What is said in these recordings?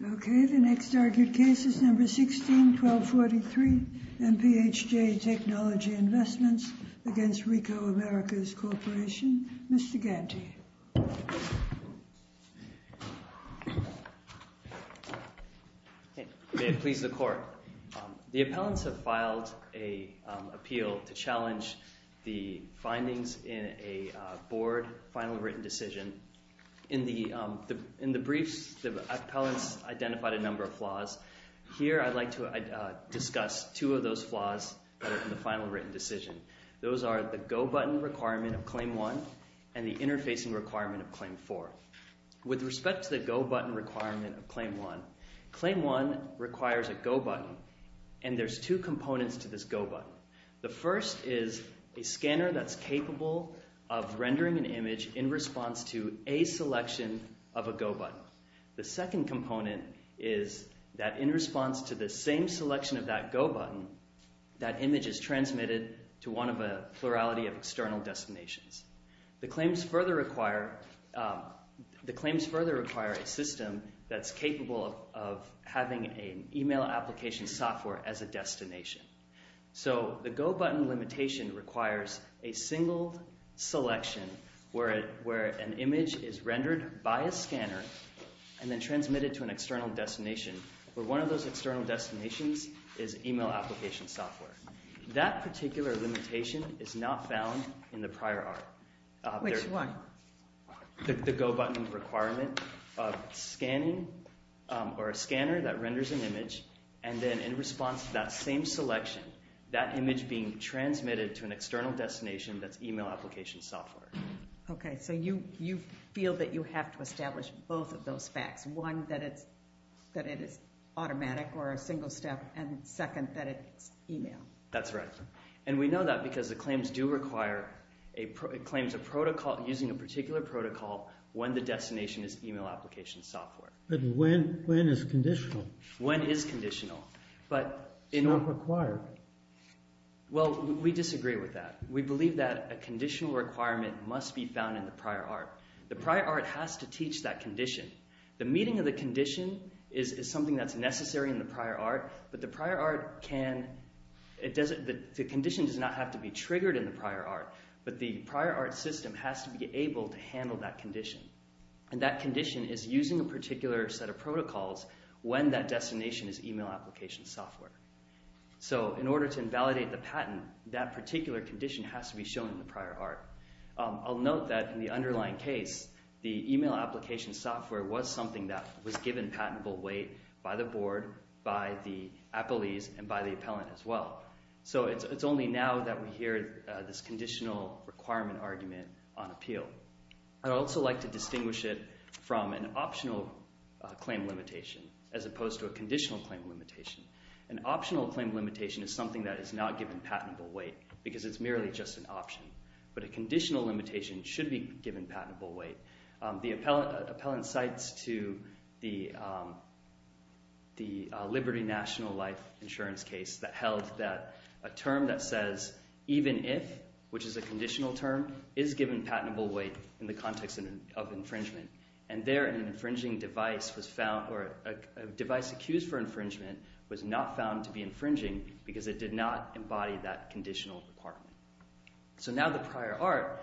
161243 MPHJ Technology Investments v. Ricoh Americas Corporation Mr. Ganji. May it please the Court. The appellants have filed an appeal to challenge the findings in a board final written decision. In the briefs, the appellants identified a number of flaws. Here I'd like to discuss two of those flaws in the final written decision. Those are the go button requirement of Claim 1 and the interfacing requirement of Claim 4. With respect to the go button requirement of Claim 1, Claim 1 requires a go button and there's two components to this go button. The first is a scanner that's capable of rendering an image in response to a selection of a go button. The second component is that in response to the same selection of that go button, that image is transmitted to one of a plurality of external destinations. The claims further require a system that's capable of having an email application software as a destination. So the go button limitation requires a single selection where an image is rendered by a scanner and then transmitted to an external destination where one of those external destinations is email application software. That particular limitation is not found in the prior art. Which one? The go button requirement of scanning or a scanner that renders an image and then in response to that same selection, that image being transmitted to an external destination that's email application software. Okay, so you feel that you have to establish both of those facts. One, that it's automatic or a single step and second, that it's email. That's right. And we know that because the claims do require, it claims a protocol using a particular protocol when the destination is email application software. But when is conditional? When is conditional. It's not required. Well, we disagree with that. We believe that a conditional requirement must be found in the prior art. The prior art has to teach that condition. The meeting of the condition is something that's necessary in the prior art, but the prior art can, the condition does not have to be triggered in the prior art, but the prior art system has to be able to handle that condition. And that condition is using a particular set of protocols when that destination is email application software. So in order to invalidate the patent, that particular condition has to be shown in the prior art. I'll note that in the underlying case, the email application software was something that was given patentable weight by the board, by the appellees and by the appellant as well. So it's only now that we hear this conditional requirement argument on appeal. I'd also like to distinguish it from an optional claim limitation as opposed to a conditional claim limitation. An optional claim limitation is something that is not given patentable weight because it's merely just an option. But a conditional limitation should be given patentable weight. The appellant cites to the Liberty National Life Insurance case that held that a term that says even if, which is a conditional term, is given patentable weight in the context of infringement. And there an infringing device was found, or a device accused for infringement was not found to be infringing because it did not embody that conditional requirement. So now the prior art,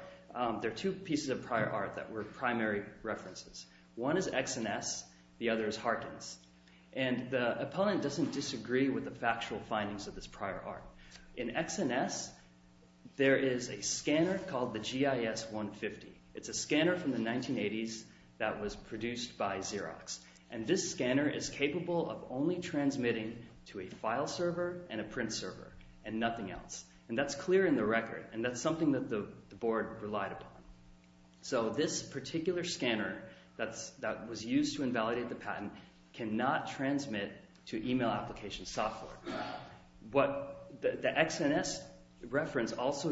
there are two pieces of prior art that were primary references. One is XNS, the other is Harkins. And the appellant doesn't disagree with the factual findings of this prior art. In XNS, there is a scanner called the GIS 150. It's a scanner from the 1980s that was produced by Xerox. And this scanner is capable of only transmitting to a file server and a print server and nothing else. And that's clear in the record. And that's something that the board relied upon. So this particular scanner that was used to invalidate the patent cannot transmit to email application software. The XNS reference also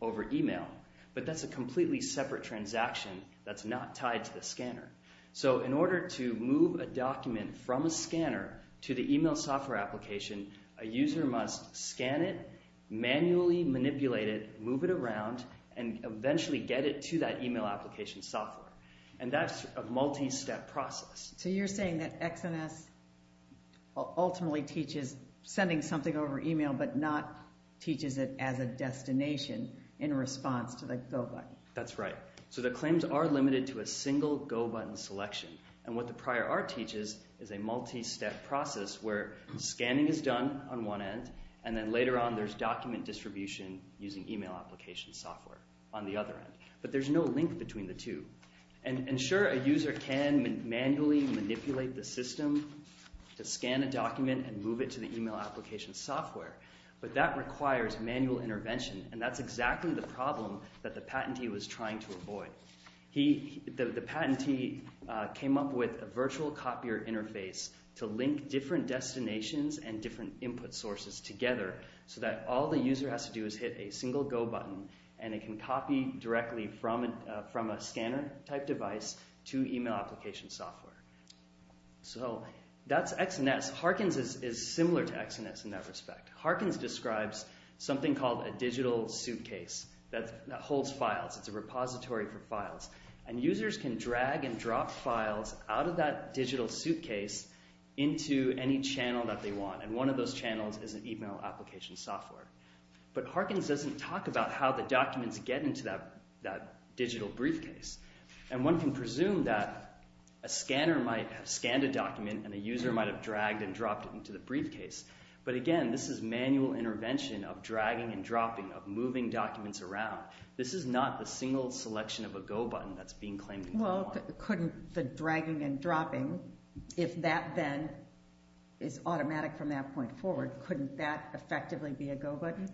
over email, but that's a completely separate transaction that's not tied to the scanner. So in order to move a document from a scanner to the email software application, a user must scan it, manually manipulate it, move it around, and eventually get it to that email application software. And that's a multi-step process. So you're saying that XNS ultimately teaches sending something over email but not teaches it as a destination in response to the Go button. That's right. So the claims are limited to a single Go button selection. And what the prior art teaches is a multi-step process where scanning is done on one end, and then later on there's document distribution using email application software on the other end. But there's no link between the two. And sure, a user can manually manipulate the system to scan a document and move it to the email application software, but that requires manual intervention. And that's exactly the problem that the patentee was trying to avoid. The patentee came up with a virtual copier interface to link different destinations and different input sources together so that all the user has to do is hit a single Go button and it can copy directly from a scanner-type device to email application software. So, that's XNS. Harkins is similar to XNS in that respect. Harkins describes something called a digital suitcase that holds files. It's a repository for files. And users can drag and drop files out of that digital suitcase into any channel that they want. And one of those channels is an email application software. But Harkins doesn't talk about how the documents get into that digital briefcase. And one can presume that a scanner might have scanned a document and a user might have dragged and dropped it into the briefcase. But again, this is manual intervention of dragging and dropping, of moving documents around. This is not the single selection of a Go button that's being claimed. Well, couldn't the dragging and dropping, if that then is automatic from that point forward, couldn't that effectively be a Go button?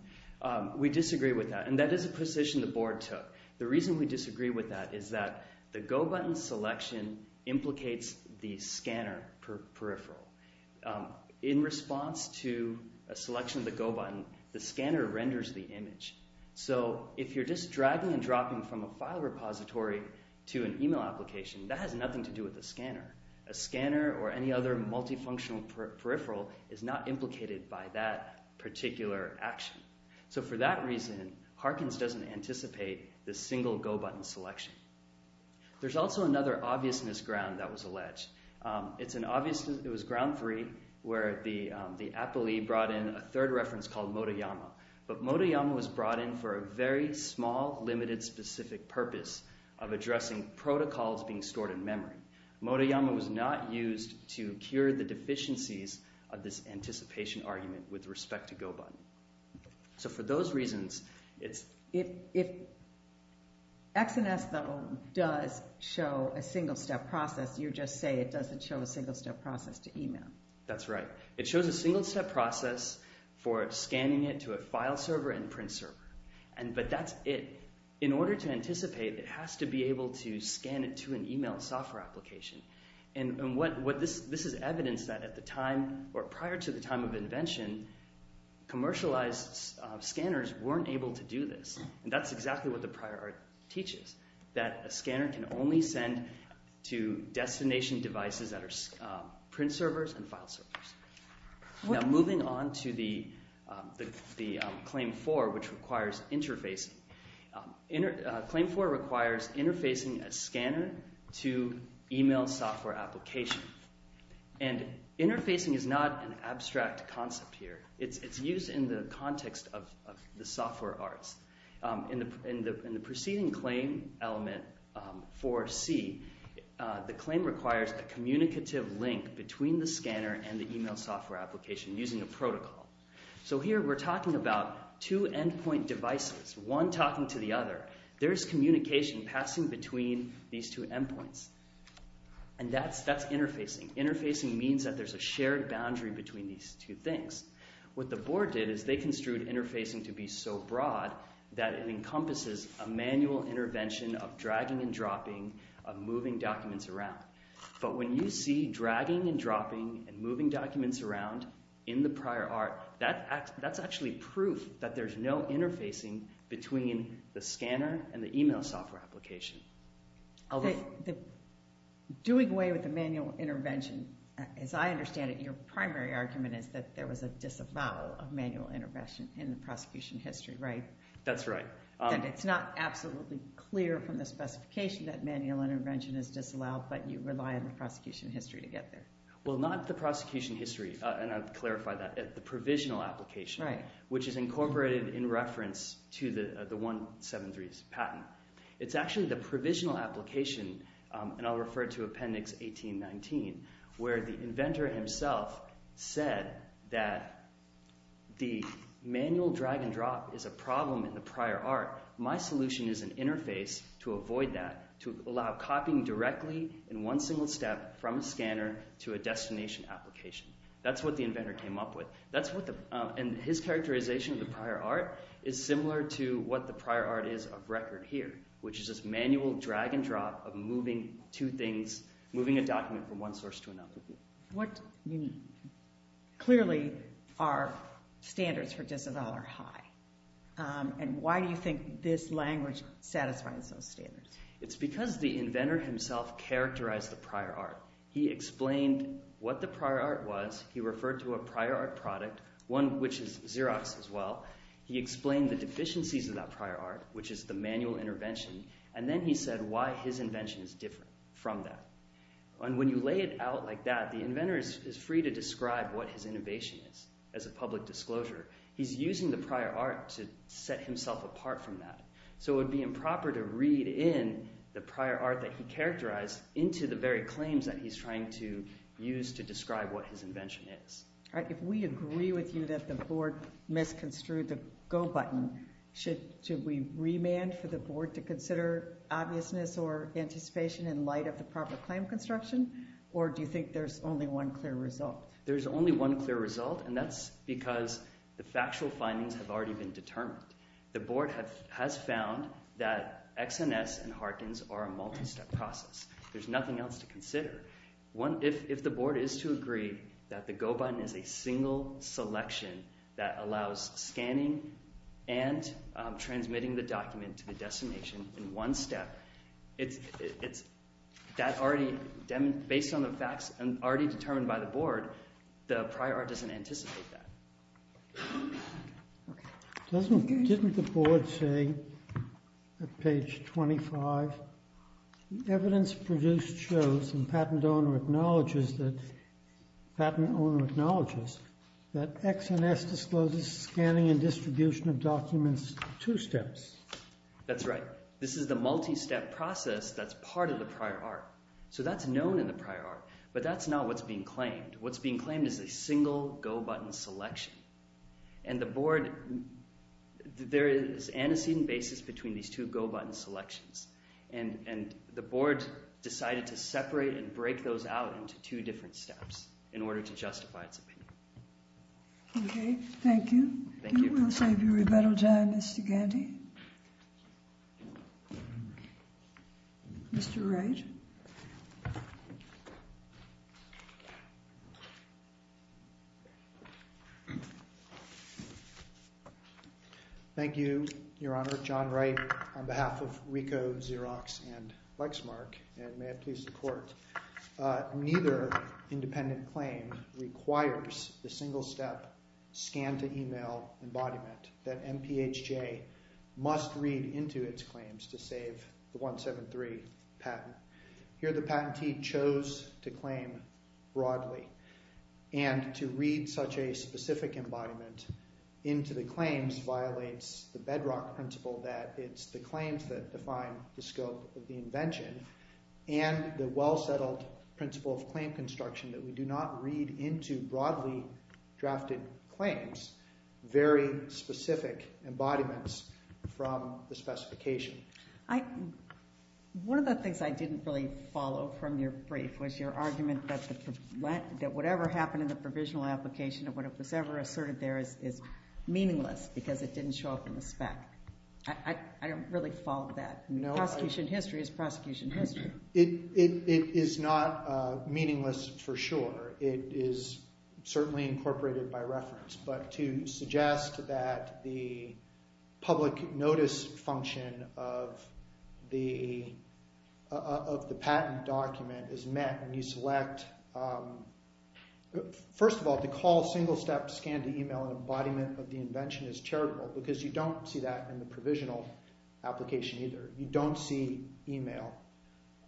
We disagree with that. And that is a position the board took. The reason we disagree with that is that the Go button selection implicates the scanner peripheral. In response to a selection of the Go button, the scanner renders the image. So, if you're just dragging and dropping from a file repository to an email application, that has nothing to do with the scanner. A So, for that reason, Harkins doesn't anticipate the single Go button selection. There's also another obvious misground that was alleged. It's an obvious, it was ground three where the Apple E brought in a third reference called Motoyama. But Motoyama was brought in for a very small, limited, specific purpose of addressing protocols being stored in memory. Motoyama was not used to cure the deficiencies of this anticipation argument with respect to Go button. So, for those reasons, it's... If XNS, though, does show a single-step process, you just say it doesn't show a single-step process to email. That's right. It shows a single-step process for scanning it to a file server and print server. But that's it. In order to anticipate, it has to be able to scan it to an email software application. And this is evidence that at the time, or prior to the time of invention, commercialized scanners weren't able to do this. And that's exactly what the prior art teaches, that a scanner can only send to destination devices that are print servers and file servers. Now, moving on to the Claim 4, which requires interfacing. Claim 4 requires interfacing a scanner to email software application. And interfacing is not an abstract concept here. It's used in the context of the software arts. In the preceding claim element, 4C, the claim requires a communicative link between the scanner and the email software application using a protocol. So here, we're talking about two endpoint devices, one talking to the other. There's communication passing between these two endpoints. And that's interfacing. Interfacing means that there's a shared boundary between these two things. What the board did is they construed interfacing to be so broad that it encompasses a manual intervention of dragging and dropping of moving documents around. But when you see dragging and dropping and moving documents around in the prior art, that's actually proof that there's no interfacing between the scanner and the email software application. Doing away with the manual intervention, as I understand it, your primary argument is that there was a disallow of manual intervention in the prosecution history, right? That's right. And it's not absolutely clear from the specification that manual intervention is disallowed, but you rely on the prosecution history to get there. Well, not the prosecution history, and I've clarified that, the provisional application, which is incorporated in reference to the 173's patent. It's actually the provisional application, and I'll refer to Appendix 1819, where the inventor himself said that the manual drag and drop is a problem in the prior art. My solution is an interface to avoid that, to allow copying directly in one single step from a scanner to a destination application. That's what the inventor came up with. And his characterization of the prior art is similar to what the prior art is of record here, which is this manual drag and drop of moving two things, moving a document from one source to another. Clearly our standards for disavowal are high. And why do you think this language satisfies those standards? It's because the inventor himself characterized the prior art. He explained what the prior art was, he referred to a prior art product, one which is Xerox as well, he explained the deficiencies of that prior art, which is the manual intervention, and then he said why his invention is different from that. When you lay it out like that, the inventor is free to describe what his innovation is as a public disclosure. He's using the prior art to set himself apart from that. So it would be improper to read in the prior art that he characterized into the very claims that he's trying to use to describe what his invention is. All right, if we agree with you that the board misconstrued the go button, should we remand for the board to consider obviousness or anticipation in light of the proper claim construction? Or do you think there's only one clear result? There's only one clear result, and that's because the factual findings have already been determined. The board has found that XNS and Harkins are a multi-step process. There's nothing else to consider. If the board is to agree that the go button is a single selection that allows scanning and transmitting the document to the destination in one step, based on the facts already determined by the board, the prior art doesn't anticipate that. Didn't the board say at page 25, the evidence produced shows and patent owner acknowledges that XNS discloses scanning and distribution of documents two steps? That's right. This is the multi-step process that's part of the prior art. So that's known in the prior art, but that's not what's being claimed. What's being claimed is a single go button selection. And the board, there is antecedent basis between these two go button selections, and the board decided to separate and break those out into two different steps in order to justify its opinion. Okay, thank you. Thank you. We'll save you a better time, Mr. Gandy. Mr. Wright. Thank you, Your Honor. John Wright on behalf of RICO, Xerox, and Lexmark, and may it please the court. Neither independent claim requires the single-step scan-to-email embodiment that MPHJ must read into its claims to save the 173 patent. Here, the patentee chose to claim broadly, and to read such a specific embodiment into the claims violates the bedrock principle that it's the claims that define the scope of the invention, and the well-settled principle of claim construction that we do not read into broadly drafted claims very specific embodiments from the specification. One of the things I didn't really follow from your brief was your argument that whatever happened in the provisional application and whatever was ever asserted there is meaningless because it didn't show up in the spec. I don't really follow that. No. Prosecution history is prosecution history. It is not meaningless for sure. It is certainly incorporated by reference, but to suggest that the public notice function of the patent document is select. First of all, to call single-step scan-to-email embodiment of the invention is charitable because you don't see that in the provisional application either. You don't see email,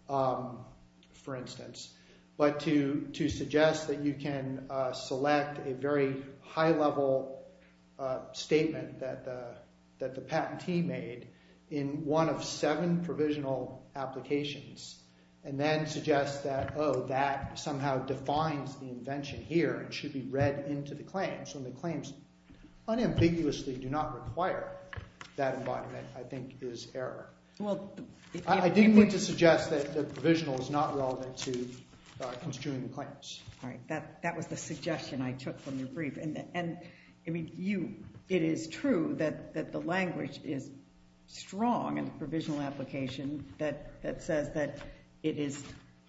for instance, but to suggest that you can select a very high-level statement that the somehow defines the invention here and should be read into the claims when the claims unambiguously do not require that embodiment, I think, is error. I didn't mean to suggest that the provisional is not relevant to construing the claims. All right. That was the suggestion I took from your brief. It is true that the language is strong in the provisional application that says that it is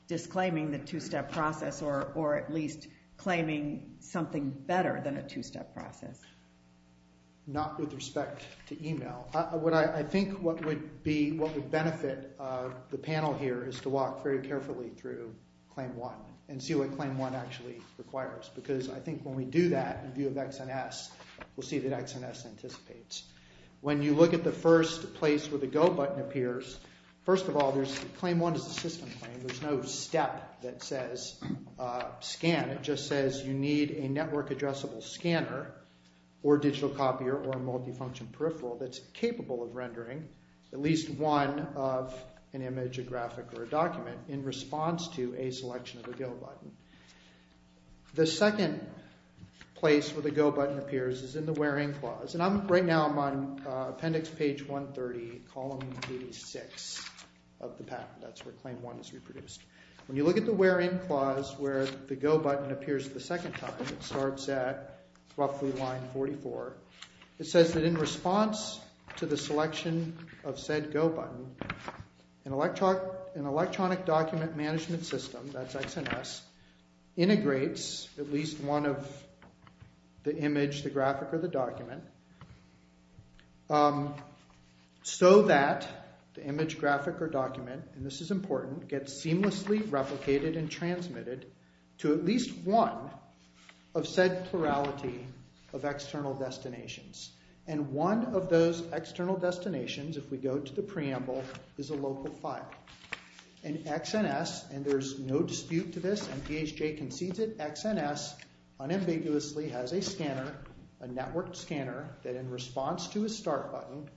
disclaiming the two-step process or at least claiming something better than a two-step process. Not with respect to email. I think what would benefit the panel here is to walk very carefully through claim one and see what claim one actually requires because I think when we do that in view of X and S, we'll see that X and S anticipates. When you look at the first place where the Go button appears, first of all, claim one is a system claim. There's no step that says scan. It just says you need a network-addressable scanner or digital copier or a multifunction peripheral that's capable of rendering at least one of an image, a graphic, or a document in response to a selection of the Go button. The second place where the Go button appears is in the where-in clause. Right now I'm on appendix page 130, column 86 of the patent. That's where claim one is reproduced. When you look at the where-in clause where the Go button appears the second time, it starts at roughly line 44. It says that in response to the selection of said Go button, an electronic document management system, that's X and S, integrates at least one of the image, the graphic, or the document so that the image, graphic, or document, and this is important, gets seamlessly replicated and transmitted to at least one of said plurality of external destinations. One of those external destinations, if we go to the preamble, is a local file. In X and S, and there's no dispute to this MPHJ concedes it, X and S unambiguously has a scanner, a network scanner, that in response to a start button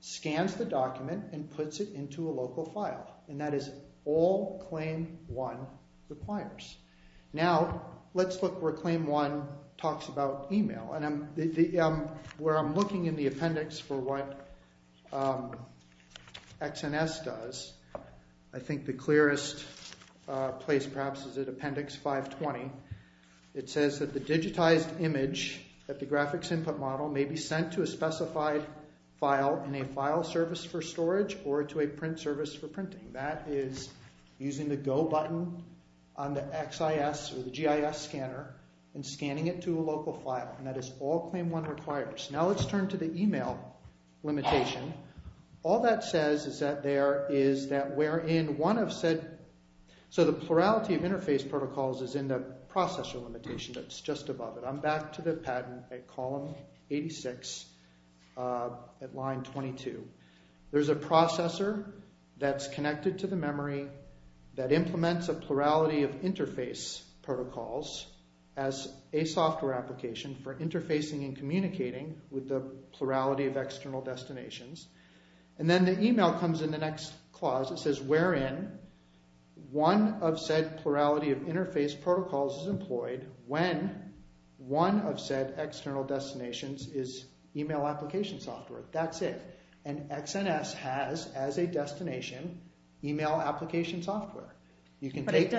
scans the document and puts it into a local file, and that is all claim one requires. Now let's look where claim one talks about email, and where I'm looking in the appendix for what X and S does, I think the clearest place perhaps is at appendix 520. It says that the digitized image that the graphics input model may be sent to a specified file in a file service for storage or to a print service for printing. That is using the Go button on the XIS or the GIS scanner and scanning it to a local file, and that is all claim one requires. Now let's turn to the email limitation. All that says is that there is that where in one of said, so the plurality of interface protocols is in the processor limitation that's just above it. I'm back to the patent at column 86 at line 22. There's a processor that's connected to the memory that implements a plurality of interface protocols as a software application for interfacing and communicating with the plurality of external destinations, and then the email comes in the next clause. It says wherein one of said plurality of interface protocols is employed when one of said external destinations is email application software. That's it, and X and S has as a destination email application software. You can take...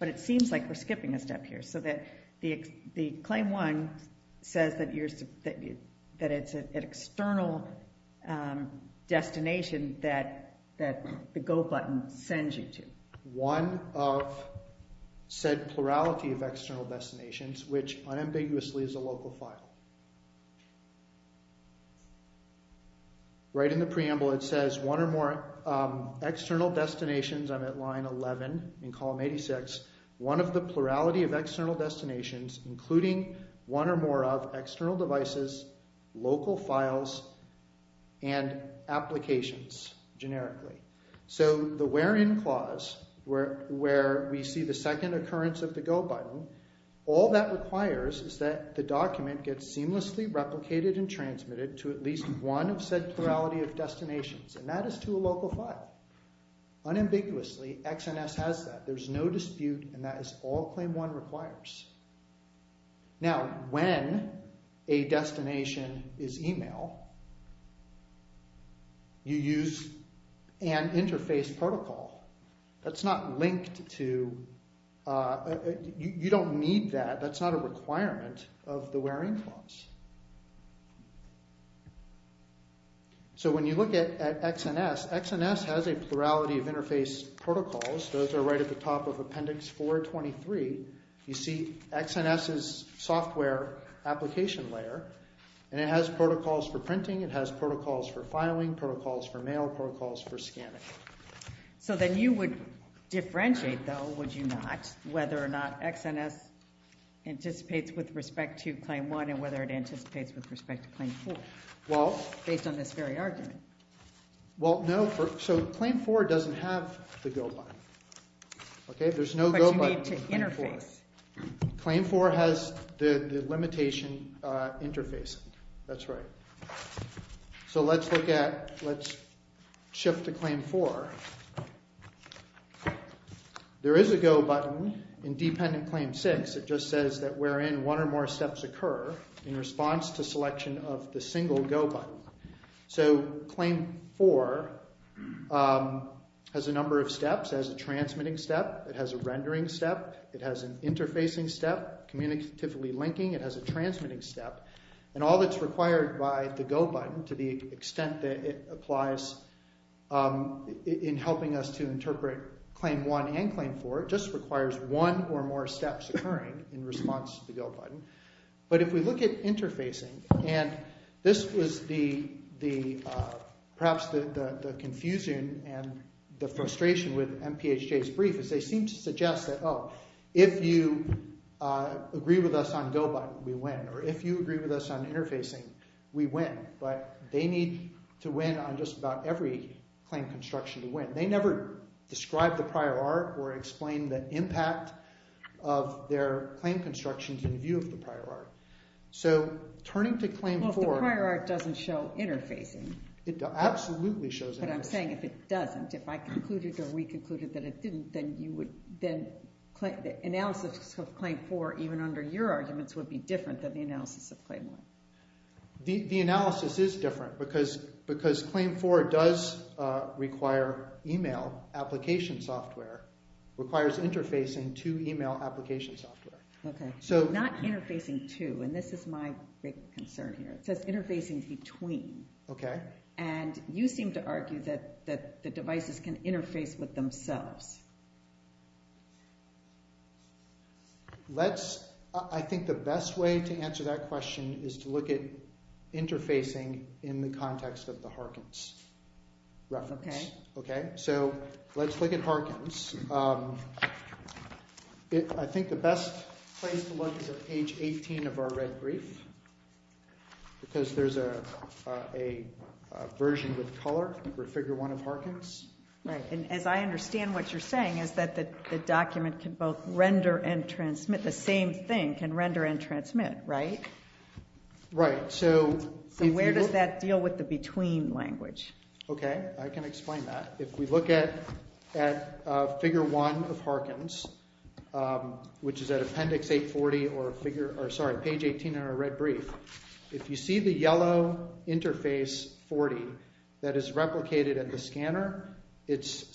But it seems like we're skipping a step here, so that the claim one says that it's an external destination that the Go button sends you to. One of said plurality of external destinations, which unambiguously is a local file. Right in the preamble, it says one or more external destinations. I'm at line 11 in column 86. One of the plurality of external destinations, including one or more of external devices, local files, and applications, generically. So the wherein clause where we see the second occurrence of the Go button, all that requires is that the document gets seamlessly replicated and transmitted to at least one of said plurality of destinations, and that is to a local file. Unambiguously, X and S has that. There's no dispute, and that is all claim one requires. Now, when a destination is email, you use an interface protocol. That's not linked to... You don't need that. That's not a requirement of the wherein clause. So when you look at X and S, X and S has a plurality of interface protocols. Those are right at the top of appendix 423. You see X and S's software application layer, and it has protocols for printing, it has protocols for filing, protocols for mail, protocols for scanning. So then you would differentiate, though, would you not, whether or not X and S anticipates with respect to claim four, based on this very argument? Well, no. So claim four doesn't have the Go button. But you need to interface. Claim four has the limitation interfacing. That's right. So let's look at... Let's shift to claim four. There is a Go button in dependent claim six. It just says that wherein one or more steps occur in response to selection of the single Go button. So claim four has a number of steps, has a transmitting step, it has a rendering step, it has an interfacing step, communicatively linking, it has a transmitting step. And all that's required by the Go button, to the extent that it applies in helping us to interpret claim one and claim four, just requires one or more steps occurring in response to the Go button. But if we look at interfacing, and this was perhaps the confusion and the frustration with MPHJ's brief, is they seem to suggest that, oh, if you agree with us on Go button, we win. Or if you agree with us on interfacing, we win. But they need to win on just about every claim construction to win. They never describe the prior art or explain the impact of their claim constructions in view of the prior art. So turning to claim four... Well, the prior art doesn't show interfacing. It absolutely shows interfacing. But I'm saying if it doesn't, if I concluded or we concluded that it didn't, then analysis of claim four, even under your arguments, would be different than the analysis of claim one. The analysis is different because claim four does require email application software, requires interfacing to email application software. Okay. Not interfacing to, and this is my big concern here. It says interfacing between. Okay. And you seem to argue that the devices can interface with themselves. Let's, I think the best way to answer that question is to look at interfacing in the context of the Harkins reference. Okay. Okay. So let's look at Harkins. I think the best place to look is at page 18 of our red brief, because there's a version with color for figure one of Harkins. Right. And as I understand what you're saying, is that the document can both render and transmit. The same thing can render and transmit, right? Right. So where does that deal with the between language? Okay. I can explain that. If we look at figure one of Harkins, which is at appendix 840 or figure, or sorry, page 18 of our red brief. It's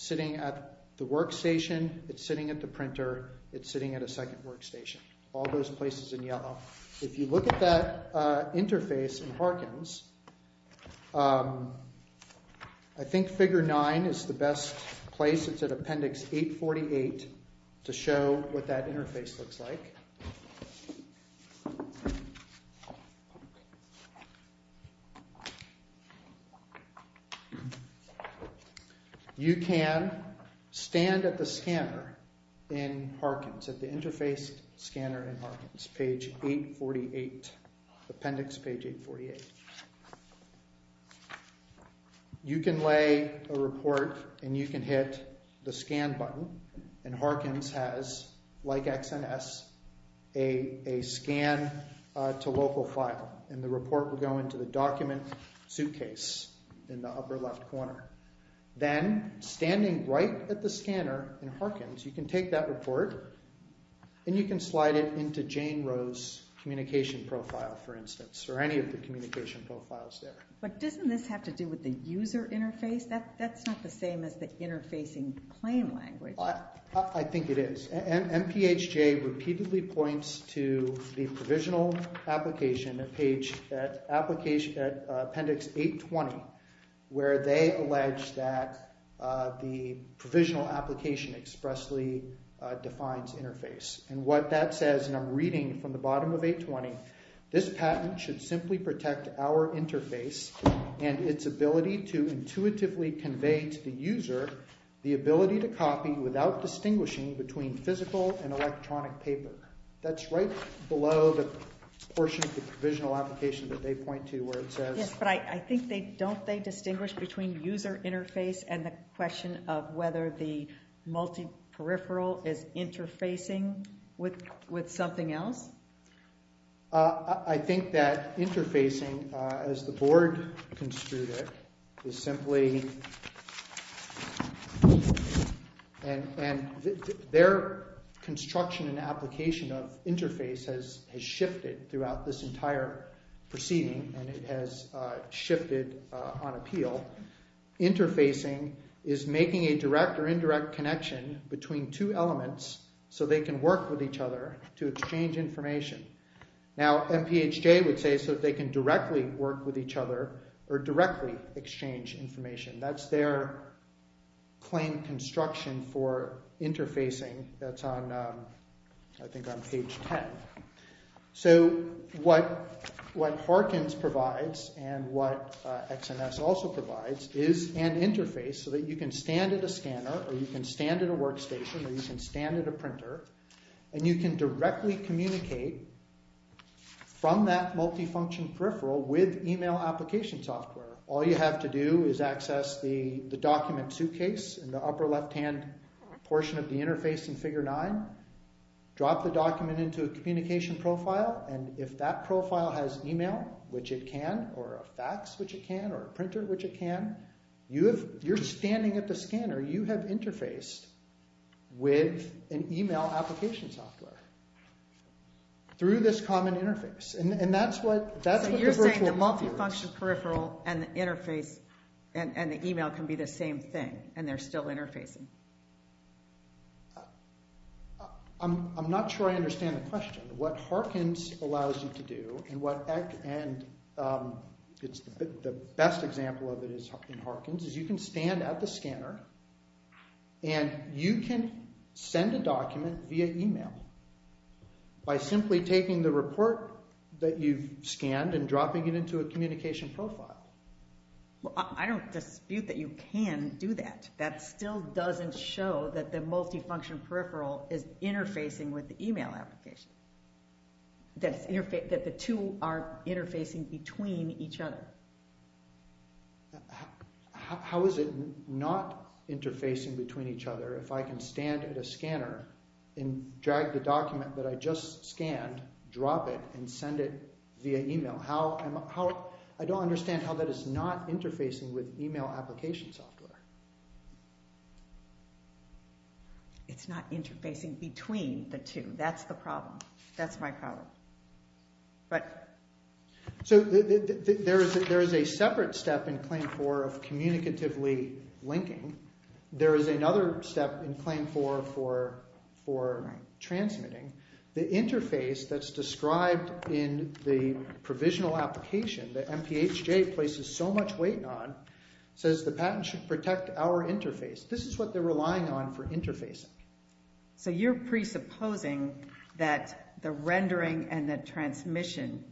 sitting at the workstation. It's sitting at the printer. It's sitting at a second workstation. All those places in yellow. If you look at that interface in Harkins, I think figure nine is the best place. It's at appendix 848 to show what that interface looks like. You can stand at the scanner in Harkins, at the interface scanner in Harkins, page 848, appendix page 848. You can lay a report and you can hit the scan button and Harkins has, like XNS, a scan to local file and the report will go into the document suitcase in the upper left corner. Then standing right at the scanner in Harkins, you can take that report and you can slide it into Jane Roe's communication profile, for instance, or any of the communication profiles there. But doesn't this have to do with the user interface? That's not the same as the interfacing claim language. I think it is. MPHJ repeatedly points to the provisional application at appendix 820, where they allege that the provisional application expressly defines interface. What that says, and I'm reading from the bottom of 820, this patent should simply protect our interface and its ability to intuitively convey to the user the ability to copy without distinguishing between physical and electronic paper. That's right below the portion of the provisional application that they point to where it says... Yes, but I think don't they distinguish between user interface and the question of whether the with something else? I think that interfacing, as the board construed it, is simply... And their construction and application of interface has shifted throughout this entire proceeding and it has shifted on appeal. Interfacing is making a direct or indirect connection between two elements so they can work with each other to exchange information. Now MPHJ would say so they can directly work with each other or directly exchange information. That's their claim construction for interfacing. That's on, I think, on page 10. So what Harkins provides and what XMS also provides is an interface so that you can stand at a scanner or you can stand at a workstation or you can stand at a printer and you can directly communicate from that multifunction peripheral with email application software. All you have to do is access the document suitcase in the upper left hand portion of the interface in figure nine, drop the document into a communication profile, and if that profile has email, which it can, or a fax, which it can, or a printer, which it can, you're standing at the scanner. You have interfaced with an email application software through this common interface. And that's what the virtual interface is. So you're saying the multifunction peripheral and the interface and the email can be the same thing and they're still interfacing? I'm not sure I understand the question. What Harkins allows you to do and the best example of it in Harkins is you can stand at the scanner and you can send a document via email by simply taking the report that you've scanned and dropping it into a communication profile. Well, I don't dispute that you can do that. That still doesn't show that the multifunction peripheral is interfacing with the email application, that the two are interfacing between each other. How is it not interfacing between each other if I can stand at a scanner and drag the document that I just scanned, drop it, and send it via email? I don't understand how that is not interfacing with email application software. It's not interfacing between the two. That's the problem. That's my problem. So there is a separate step in Claim 4 of communicatively linking. There is another step in Claim 4 for transmitting. The interface that's described in the provisional application that MPHJ places so much weight on says the patent should protect our interface. This is what they're relying on for interfacing. So you're presupposing that the rendering and the transmission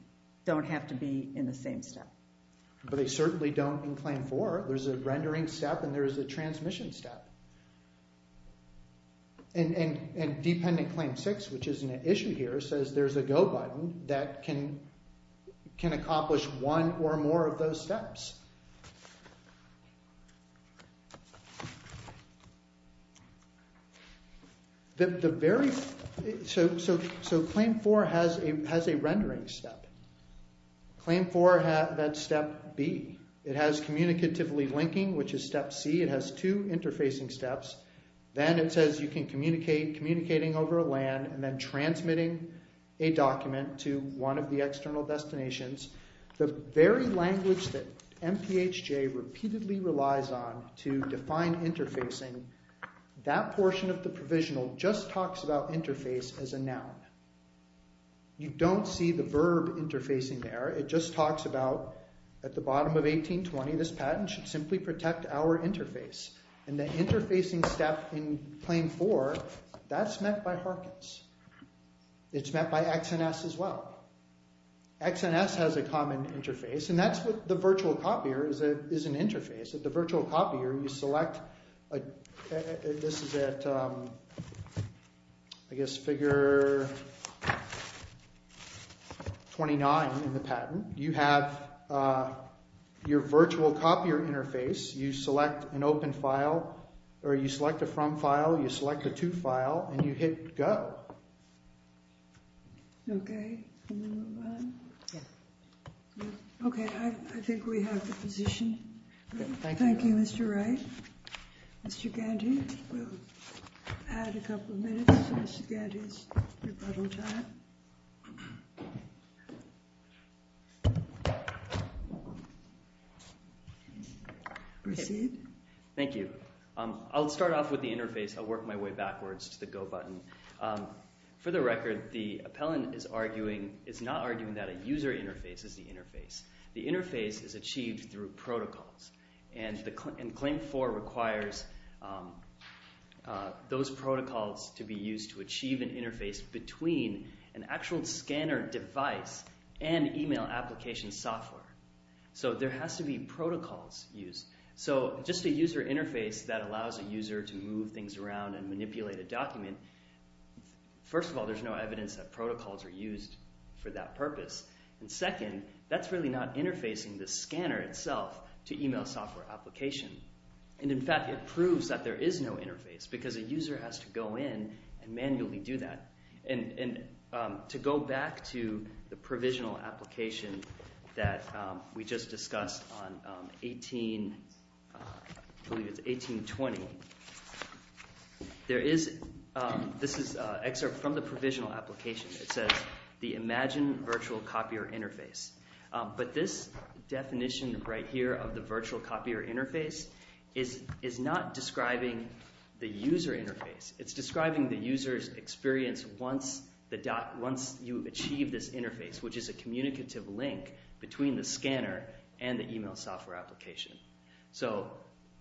don't have to be in the same step. But they certainly don't in Claim 4. There's a rendering step and there is a transmission step. And Dependent Claim 6, which is an issue here, says there's a go button that can accomplish one or more of those steps. The very—so Claim 4 has a rendering step. Claim 4, that's step B. It has communicatively linking, which is step C. It has two interfacing steps. Then it says you can communicate, communicating over LAN and then transmitting a document to one of the external destinations. The very language that MPHJ repeatedly relies on to define interfacing, that portion of the provisional just talks about interface as a noun. You don't see the verb interfacing there. It just talks about at the bottom of 1820, this patent should simply protect our interface. And the interfacing step in Claim 4, that's met by Harkins. It's met by XNS as well. XNS has a common interface and that's what the virtual copier is an interface. The virtual copier, you select—this is at, I guess, figure 29 in the patent. You have your virtual copier interface. You select an open file, or you select a from file, you select a to file, and you hit go. Okay, can we move on? Yeah. Okay, I think we have the position. Thank you, Mr. Wright. Mr. Gandhi, we'll add a couple of minutes to Mr. Gandhi's rebuttal time. Proceed. Thank you. I'll start off with the interface. I'll work my way backwards to the go button. For the record, the appellant is not arguing that a user interface is the interface. The interface is achieved through protocols, and Claim 4 requires those protocols to be used to achieve an interface between an actual scanner device and email application software. So there has to be protocols used. So just a user interface that allows a user to move things around and manipulate a document — first of all, there's no evidence that protocols are used for that purpose. And second, that's really not interfacing the scanner itself to email software application. And in fact, it proves that there is no interface, because a user has to go in and manually do that. And to go back to the provisional application that we just discussed on 18—I believe it's 1820—this is an excerpt from the provisional application. It says, the imagine virtual copier interface. But this definition right here of the virtual copier interface is not describing the user interface. It's describing the user's experience once you achieve this interface, which is a communicative link between the scanner and the email software application. So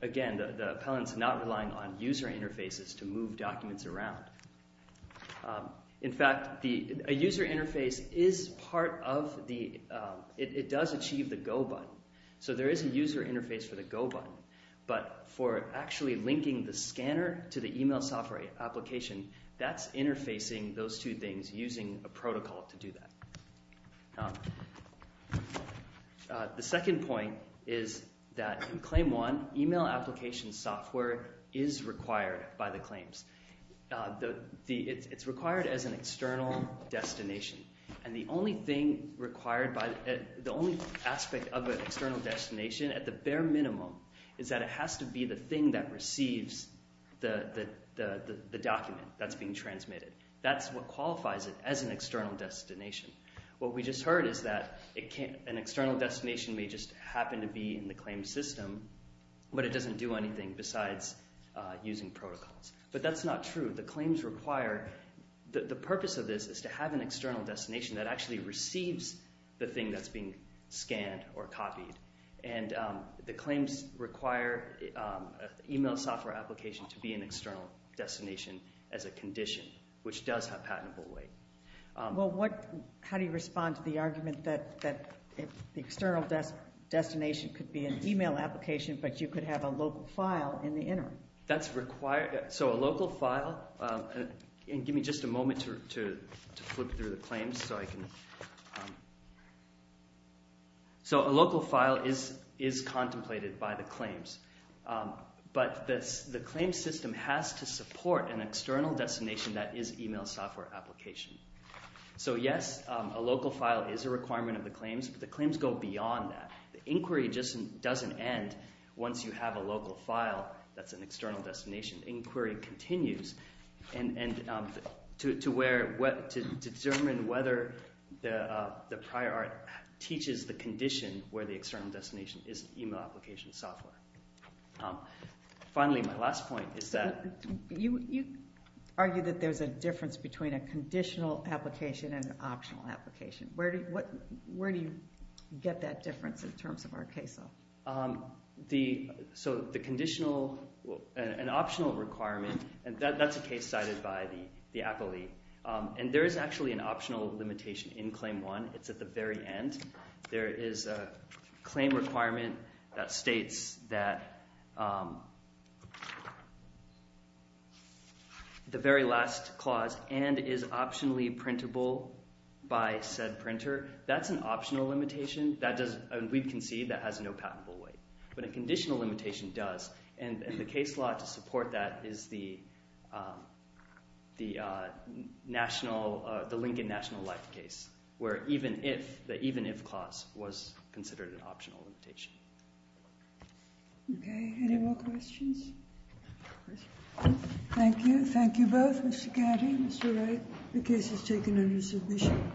again, the appellant's not relying on user interfaces to move documents around. In fact, a user interface is part of the—it does achieve the go button. So there is a user interface for the go button. But for actually linking the scanner to the email software application, that's interfacing those two things using a protocol to do that. Now, the second point is that in Claim 1, email application software is required by the claims. It's required as an external destination. And the only thing required by—the only aspect of an external destination, at the bare minimum, is that it has to be the thing that receives the document that's being transmitted. That's what qualifies it as an external destination. What we just heard is that an external destination may just happen to be in the claim system, but it doesn't do anything besides using protocols. But that's not true. The claims require—the purpose of this is to have an external destination that actually receives the thing that's being scanned or copied. And the claims require email software application to be an external destination as a condition, which does have patentable weight. Well, what—how do you respond to the argument that the external destination could be an email application, but you could have a local file in the interim? That's required—so a local file—and give me just a moment to flip through the claims so I can—so a local file is contemplated by the claims. But the claims system has to support an external destination that is email software application. So, yes, a local file is a requirement of the claims, but the claims go beyond that. The inquiry just doesn't end once you have a local file that's an external destination. Inquiry continues, and to where—to determine whether the prior art teaches the condition where the external destination is email application software. Finally, my last point is that— conditional application and optional application. Where do you—where do you get that difference in terms of our case law? The—so the conditional—an optional requirement, and that's a case cited by the appellee. And there is actually an optional limitation in Claim 1. It's at the very end. There is a claim requirement that states that the very last clause and is optionally printable by said printer. That's an optional limitation. That doesn't—we can see that has no patentable weight. But a conditional limitation does, and the case law to support that is the national—the even-if clause was considered an optional limitation. Okay. Any more questions? Thank you. Thank you both, Mr. Catty and Mr. Wright. The case is taken under submission.